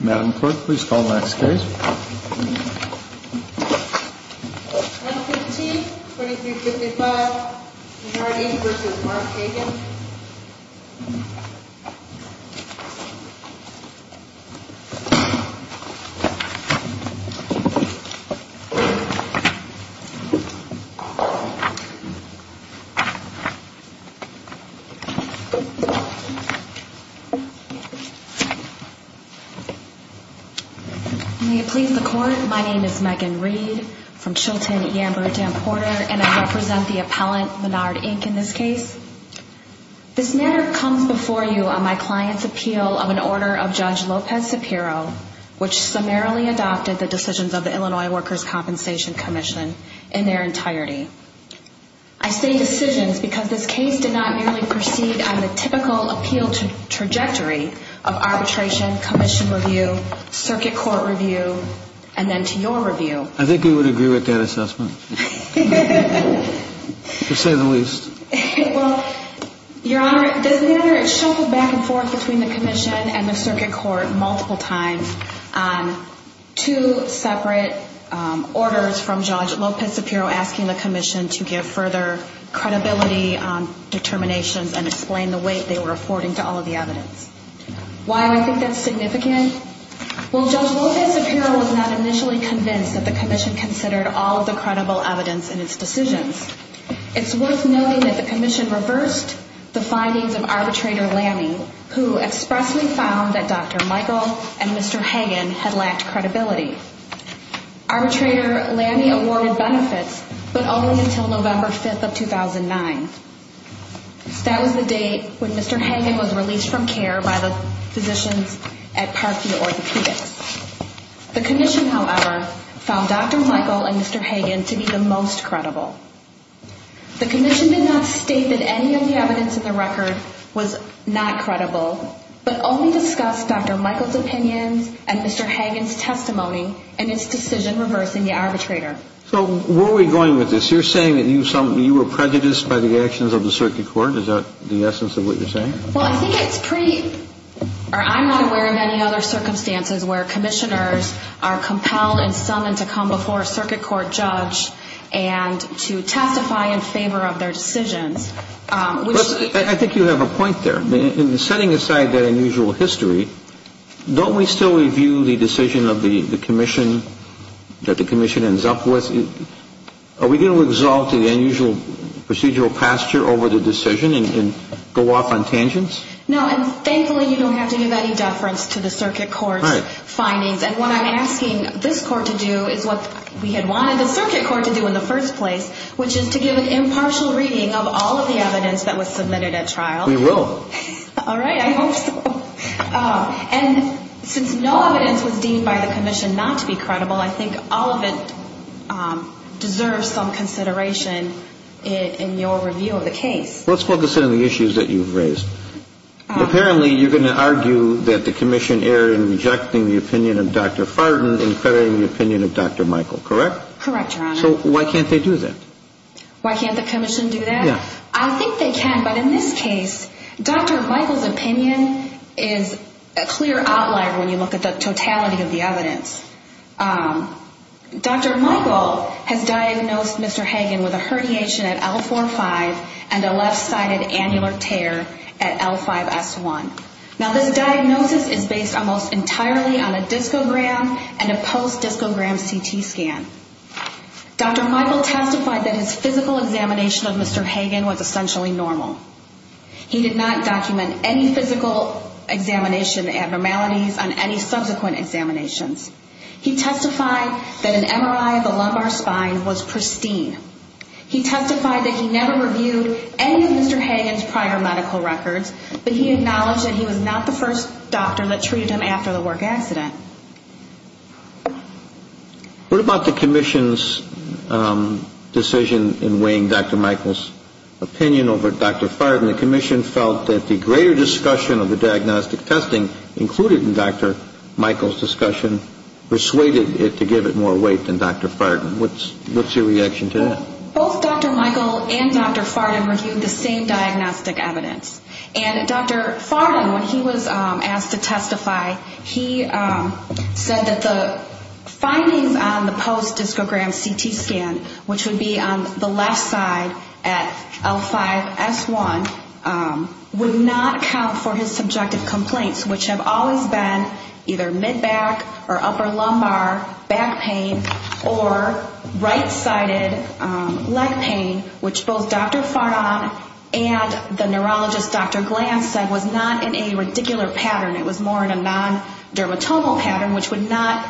Madam Clerk, please call the next case. Number 15, 2355, Mardy v. Mark Hagan May it please the Court, my name is Megan Reed from Chilton, Yamba, and Porter, and I represent the appellant, Mardy, Inc., in this case. This matter comes before you on my client's appeal of an order of Judge Lopez-Sapiro, which summarily adopted the decisions of the Illinois Workers' Compensation Commission in their entirety. I say decisions because this case did not merely proceed on the typical appeal trajectory of arbitration, commission review, circuit court review, and then to your review. I think we would agree with that assessment, to say the least. Well, Your Honor, this matter has shuffled back and forth between the Commission and the Circuit Court multiple times on two separate orders from Judge Lopez-Sapiro asking the Commission to give further credibility on determinations and explain the weight they were affording to all of the evidence. Why do I think that's significant? Well, Judge Lopez-Sapiro was not initially convinced that the Commission considered all of the credible evidence in its decisions. It's worth noting that the Commission reversed the findings of Arbitrator Lammy, who expressly found that Dr. Michael and Mr. Hagan had lacked credibility. Arbitrator Lammy awarded benefits, but only until November 5th of 2009. That was the date when Mr. Hagan was released from care by the physicians at Parkview Orthopedics. The Commission, however, found Dr. Michael and Mr. Hagan to be the most credible. The Commission did not state that any of the evidence in the record was not credible, but only discussed Dr. Michael's opinions and Mr. Hagan's testimony in its decision reversing the arbitrator. So where are we going with this? You're saying that you were prejudiced by the actions of the Circuit Court. Is that the essence of what you're saying? Well, I think it's pretty – or I'm not aware of any other circumstances where commissioners are compelled and summoned to come before a Circuit Court judge and to testify in favor of their decisions. I think you have a point there. Setting aside that unusual history, don't we still review the decision of the Commission that the Commission ends up with? Are we going to exalt the unusual procedural posture over the decision and go off on tangents? No, and thankfully you don't have to give any deference to the Circuit Court's findings. And what I'm asking this Court to do is what we had wanted the Circuit Court to do in the first place, which is to give an impartial reading of all of the evidence that was submitted at trial. We will. All right, I hope so. And since no evidence was deemed by the Commission not to be credible, I think all of it deserves some consideration in your review of the case. Let's focus on the issues that you've raised. Apparently, you're going to argue that the Commission erred in rejecting the opinion of Dr. Fartin and federating the opinion of Dr. Michael, correct? Correct, Your Honor. So why can't they do that? Why can't the Commission do that? Yeah. I think they can, but in this case, Dr. Michael's opinion is a clear outlier when you look at the totality of the evidence. Dr. Michael has diagnosed Mr. Hagan with a herniation at L4-5 and a left-sided annular tear at L5-S1. Now, this diagnosis is based almost entirely on a discogram and a post-discogram CT scan. Dr. Michael testified that his physical examination of Mr. Hagan was essentially normal. He did not document any physical examination abnormalities on any subsequent examinations. He testified that an MRI of the lumbar spine was pristine. He testified that he never reviewed any of Mr. Hagan's prior medical records, but he acknowledged that he was not the first doctor that treated him after the work accident. What about the Commission's decision in weighing Dr. Michael's opinion over Dr. Fardin? The Commission felt that the greater discussion of the diagnostic testing included in Dr. Michael's discussion persuaded it to give it more weight than Dr. Fardin. What's your reaction to that? Both Dr. Michael and Dr. Fardin reviewed the same diagnostic evidence. And Dr. Fardin, when he was asked to testify, he said that the findings on the post-discogram CT scan, which would be on the left side at L5-S1, would not count for his subjective complaints, which have always been either mid-back or upper lumbar back pain or right-sided leg pain, which both Dr. Fardin and the neurologist, Dr. Glantz, said was not in a radicular pattern. It was more in a non-dermatomal pattern, which would not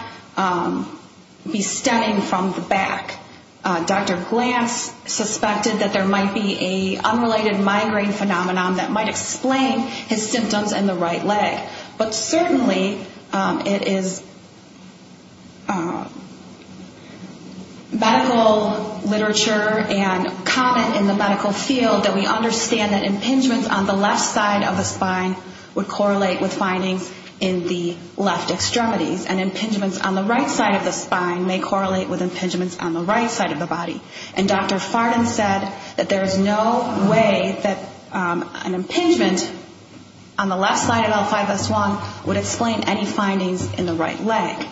be stemming from the back. Dr. Glantz suspected that there might be an unrelated migraine phenomenon that might explain his symptoms in the right leg. But certainly it is medical literature and comment in the medical field that we understand that impingements on the left side of the spine would correlate with findings in the left extremities. And impingements on the right side of the spine may correlate with impingements on the right side of the body. And Dr. Fardin said that there is no way that an impingement on the left side of L5-S1 would explain any findings in the right leg.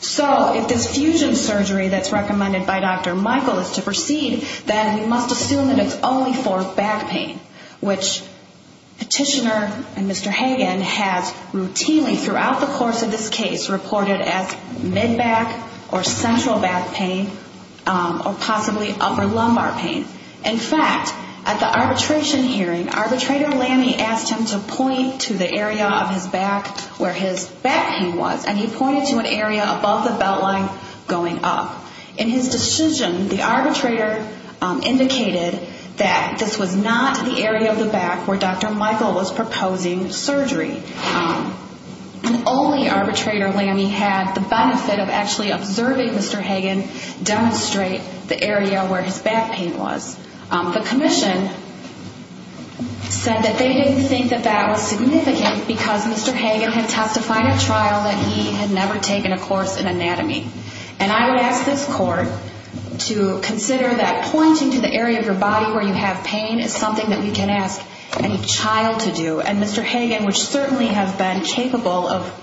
So if this fusion surgery that's recommended by Dr. Michael is to proceed, then we must assume that it's only for back pain, which Petitioner and Mr. Hagan has routinely throughout the course of this case reported as mid-back or central back pain, or possibly upper lumbar pain. In fact, at the arbitration hearing, arbitrator Lamme asked him to point to the area of his back where his back pain was, and he pointed to an area above the belt line going up. In his decision, the arbitrator indicated that this was not the area of the back where Dr. Michael was proposing surgery. The only arbitrator Lamme had the benefit of actually observing Mr. Hagan demonstrate the area where his back pain was. The commission said that they didn't think that that was significant because Mr. Hagan had testified at trial that he had never taken a course in anatomy. And I would ask this court to consider that pointing to the area of your body where you have pain is something that we can ask any child to do. And Mr. Hagan would certainly have been capable of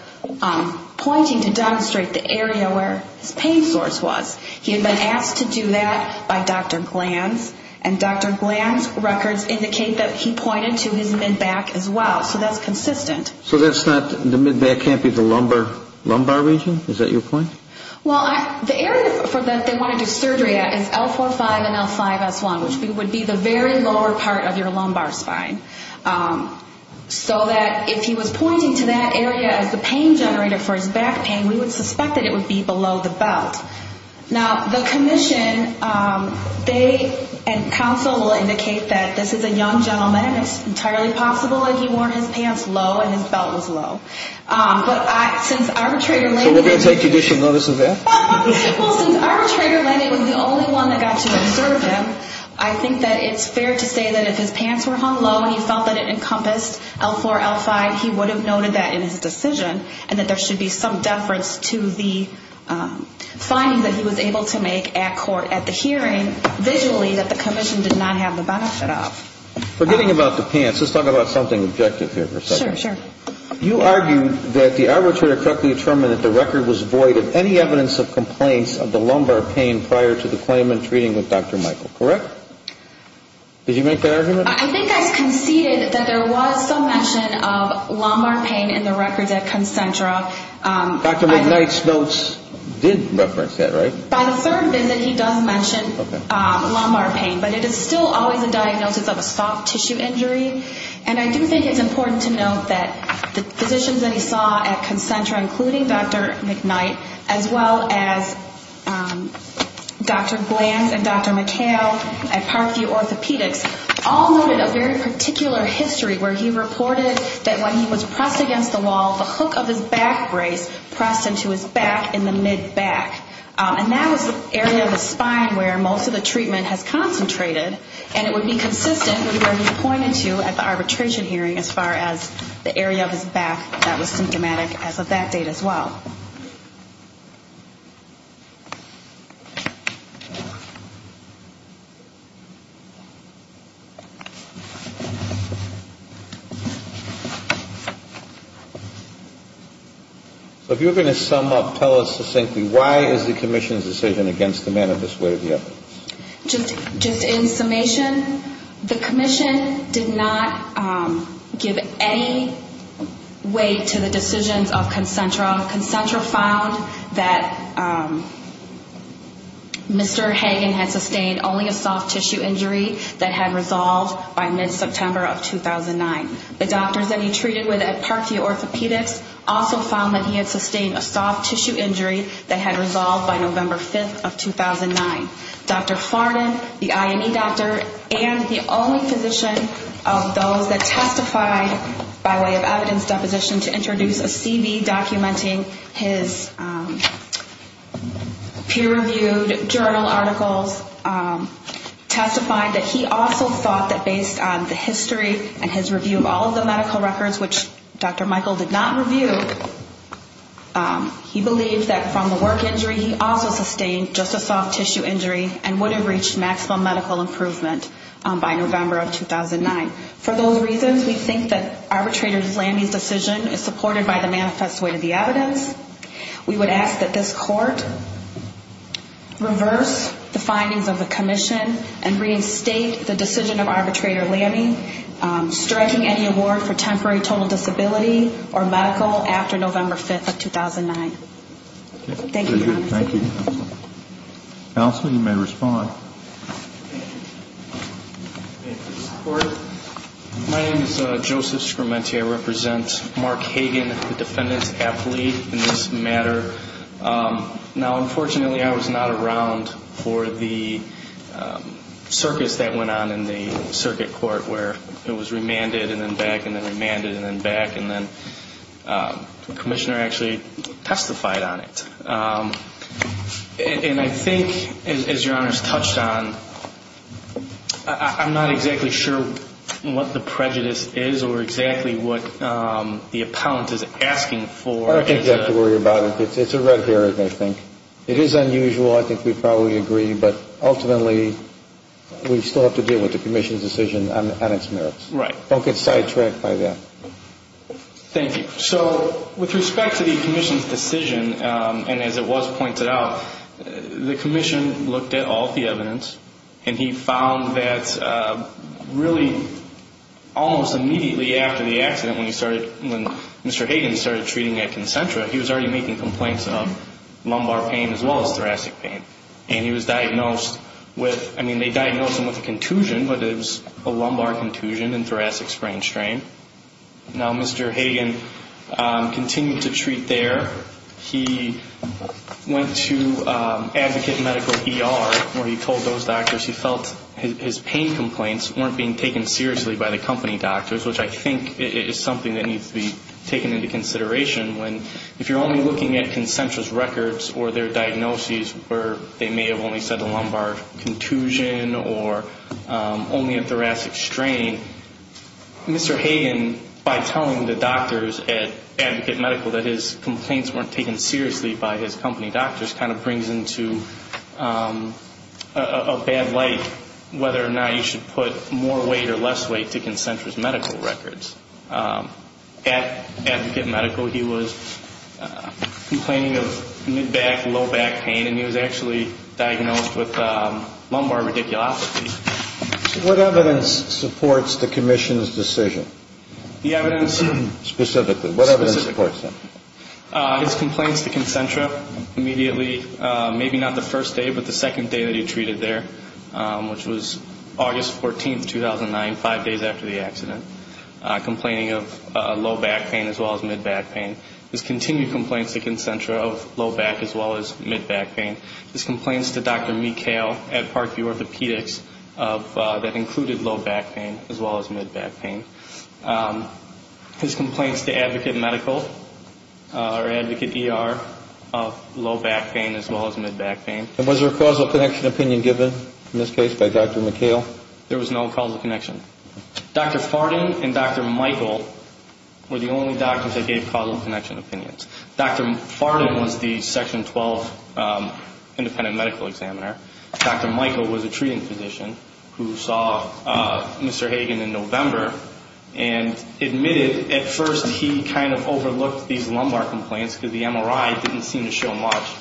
pointing to demonstrate the area where his pain source was. He had been asked to do that by Dr. Glanz, and Dr. Glanz's records indicate that he pointed to his mid-back as well, so that's consistent. So that's not, the mid-back can't be the lumbar region? Is that your point? Well, the area for that they want to do surgery at is L4-5 and L5-S1, which would be the very lower part of your lumbar spine. So that if he was pointing to that area as the pain generator for his back pain, we would suspect that it would be below the belt. Now, the commission, they and counsel will indicate that this is a young gentleman. It's entirely possible that he wore his pants low and his belt was low. So we're going to take judicial notice of that? Well, since arbitrator Lenny was the only one that got to observe him, I think that it's fair to say that if his pants were hung low and he felt that it encompassed L4-L5, he would have noted that in his decision, and that there should be some deference to the finding that he was able to make at court at the hearing, visually that the commission did not have the benefit of. Forgetting about the pants, let's talk about something objective here for a second. Sure, sure. You argued that the arbitrator correctly determined that the record was void of any evidence of complaints of the lumbar pain prior to the claimant treating with Dr. Michael, correct? Did you make that argument? I think I conceded that there was some mention of lumbar pain in the records at Concentra. Dr. McKnight's notes did reference that, right? By the third visit, he does mention lumbar pain, but it is still always a diagnosis of a soft tissue injury. And I do think it's important to note that the physicians that he saw at Concentra, including Dr. McKnight, as well as Dr. Glantz and Dr. McHale at Parkview Orthopedics, all noted a very particular history where he reported that when he was pressed against the wall, the hook of his back brace pressed into his back in the mid-back. And that was the area of his spine where most of the treatment has concentrated, and it would be consistent with where he pointed to at the arbitration hearing as far as the area of his back that was symptomatic as of that date as well. So if you're going to sum up, tell us succinctly, why is the commission's decision against the manifest way of the evidence? Just in summation, the commission did not give any weight to the decisions of Concentra. Concentra found that Mr. Hagan had sustained only a soft tissue injury that had resolved by mid-September of 2009. The doctors that he treated with at Parkview Orthopedics also found that he had sustained a soft tissue injury that had resolved by November 5th of 2009. Dr. Farnan, the IME doctor, and the only physician of those that testified by way of evidence deposition to introduce a CV documenting his peer-reviewed journal articles, testified that he also thought that based on the history and his review of all of the medical records, which Dr. Michael did not review, he believed that from the work injury he also sustained just a soft tissue injury and would have reached maximum medical improvement by November of 2009. For those reasons, we think that arbitrator Lamy's decision is supported by the manifest way of the evidence. We would ask that this court reverse the findings of the commission and reinstate the decision of arbitrator Lamy, striking any award for temporary total disability or medical accident. Thank you, counsel. Counsel, you may respond. My name is Joseph Scrementi. I represent Mark Hagan, the defendant's athlete in this matter. Now, unfortunately, I was not around for the circus that went on in the circuit court where it was remanded and then back and then remanded and then back and then back. And I think, as your Honor has touched on, I'm not exactly sure what the prejudice is or exactly what the appellant is asking for. I don't think you have to worry about it. It's a red herring, I think. It is unusual, I think we probably agree, but ultimately we still have to deal with the commission's decision on its merits. Right. Don't get sidetracked by that. Thank you. So with respect to the commission's decision, and as it was pointed out, the commission looked at all the evidence and he found that really almost immediately after the accident when he started, when Mr. Hagan started treating at Concentra, he was already making complaints of lumbar pain as well as thoracic pain. And he was diagnosed with, I mean, they diagnosed him with a contusion, but it was a lumbar contusion and thoracic sprain strain. Now, Mr. Hagan continued to treat there. He went to Advocate Medical ER where he told those doctors he felt his pain complaints weren't being taken seriously by the company doctors, which I think is something that needs to be taken into consideration. When, if you're only looking at Concentra's records or their diagnoses where they may have only said the lumbar contusion or only a thoracic strain, Mr. Hagan, by telling the doctors at Advocate Medical that his complaints weren't taken seriously by his company doctors kind of brings into a bad light whether or not you should put more weight or less weight to Concentra's medical records. At Advocate Medical, he was complaining of mid-back, low-back pain, and he was actually diagnosed with lumbar radiculopathy. What evidence supports the commission's decision? Specifically, what evidence supports that? His complaints to Concentra immediately, maybe not the first day, but the second day that he treated there, which was August 14, 2009, five days after the accident. Complaining of low-back pain as well as mid-back pain. His continued complaints to Concentra of low-back as well as mid-back pain. His complaints to Dr. McHale at Parkview Orthopedics that included low-back pain as well as mid-back pain. His complaints to Advocate Medical or Advocate ER of low-back pain as well as mid-back pain. And was there a causal connection opinion given in this case by Dr. McHale? There was no causal connection. Dr. Farden and Dr. Michael were the only doctors that gave causal connection opinions. Dr. Farden was the Section 12 independent medical examiner. Dr. Michael was a treating physician who saw Mr. Hagen in November and admitted at first he kind of overlooked these lumbar complaints because the MRI didn't seem to show much.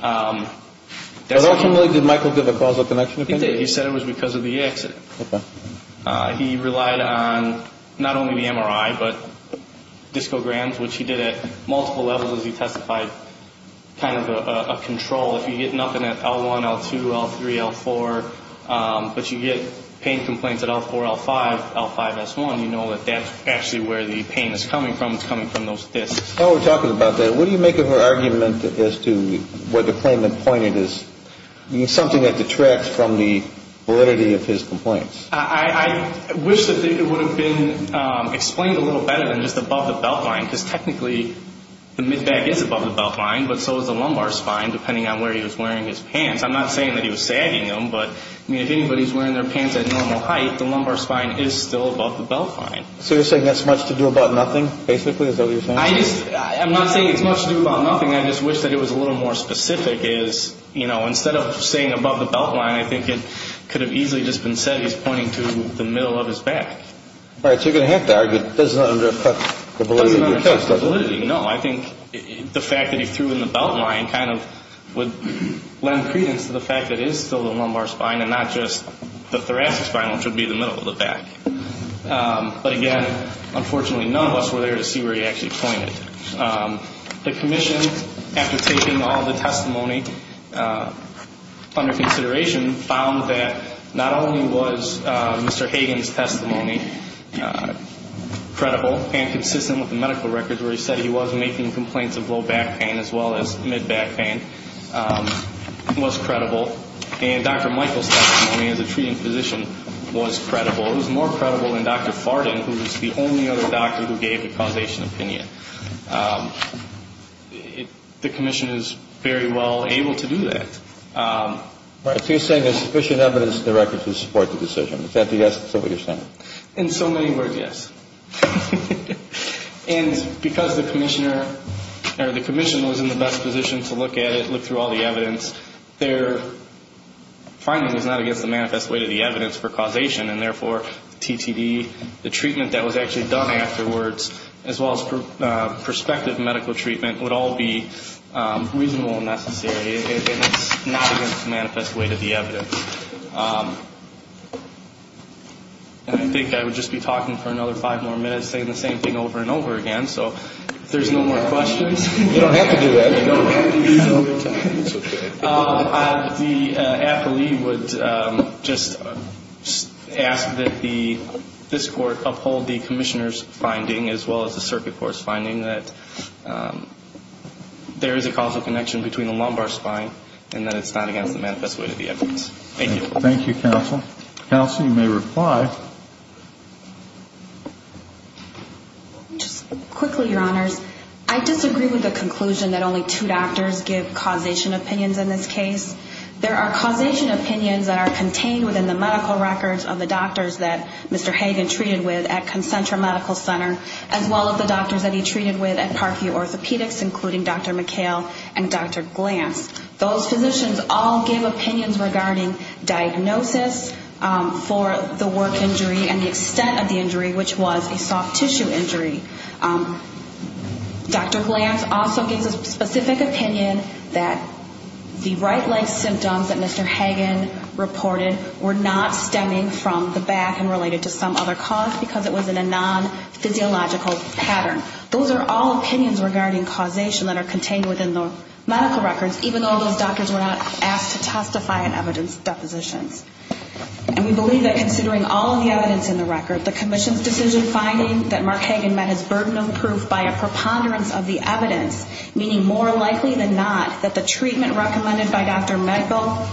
But ultimately, did Michael give a causal connection opinion? He did. He said it was because of the accident. He relied on not only the MRI, but Discograms, which he did at multiple levels as he testified, kind of a control. If you get nothing at L1, L2, L3, L4, but you get pain complaints at L4, L5, L5, S1, you know that that's actually where the pain is coming from. While we're talking about that, what do you make of her argument as to what the claimant pointed as something that detracts from the validity of his complaints? I wish that it would have been explained a little better than just above the beltline, because technically the mid-back is above the beltline, but so is the lumbar spine, depending on where he was wearing his pants. I'm not saying that he was sagging them, but I mean, if anybody's wearing their pants at normal height, the lumbar spine is still above the beltline. So you're saying that's much to do about nothing, basically, is that what you're saying? I'm not saying it's much to do about nothing. I just wish that it was a little more specific. Instead of saying above the beltline, I think it could have easily just been said he's pointing to the middle of his back. All right, so you're going to have to argue it doesn't under affect the validity of your testimony. No, I think the fact that he threw in the beltline kind of would lend credence to the fact that it is still the lumbar spine and not just the thoracic spine, which would be the middle of the back. But again, unfortunately, none of us were there to see where he actually pointed. The commission, after taking all the testimony under consideration, found that not only was Mr. Hagan's testimony credible and consistent with the medical records where he said he was making complaints of low back pain as well as mid-back pain, was credible, and Dr. Michael's testimony as a treating physician was credible. It's more credible than Dr. Farden, who's the only other doctor who gave a causation opinion. The commission is very well able to do that. So you're saying there's sufficient evidence in the records to support the decision. Is that what you're saying? In so many words, yes. And because the commissioner or the commission was in the best position to look at it, look through all the evidence, their finding is not against the manifest way to the evidence for causation. And therefore, TTD, the treatment that was actually done afterwards, as well as prospective medical treatment, would all be reasonable and necessary, and it's not against the manifest way to the evidence. And I think I would just be talking for another five more minutes saying the same thing over and over again. So if there's no more questions... The appellee would just ask that this court uphold the commissioner's finding, as well as the circuit court's finding, that there is a causal connection between the lumbar spine and that it's not against the manifest way to the evidence. Thank you. Thank you, counsel. Counsel, you may reply. Just quickly, Your Honors, I disagree with the conclusion that only two doctors give causation opinions in this case. There are causation opinions that are contained within the medical records of the doctors that Mr. Hagan treated with at Concentra Medical Center, as well as the doctors that he treated with at Parkview Orthopedics, including Dr. McHale and Dr. Glantz. Those physicians all give opinions regarding diagnosis for the work injury and the extent to which the work injury was caused. Dr. Glantz also gives a specific opinion that the right leg symptoms that Mr. Hagan reported were not stemming from the back and related to some other cause, because it was in a non-physiological pattern. Those are all opinions regarding causation that are contained within the medical records, even though those doctors were not asked to testify in evidence depositions. And we believe that considering all of the evidence in the record, the commission's decision finding that Mark Hagan met his burden of proof by a preponderance of the evidence, meaning more likely than not that the treatment recommended by Dr. McHale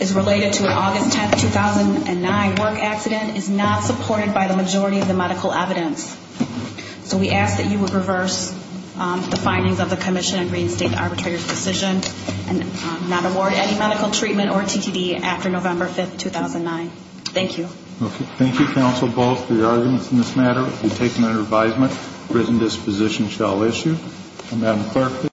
is related to an August 10, 2009 work accident, is not supported by the majority of the medical evidence. So we ask that you would reverse the findings of the commission and Green State Arbitrators' decision and not award any medical treatment or TTD after November 15th. Thank you.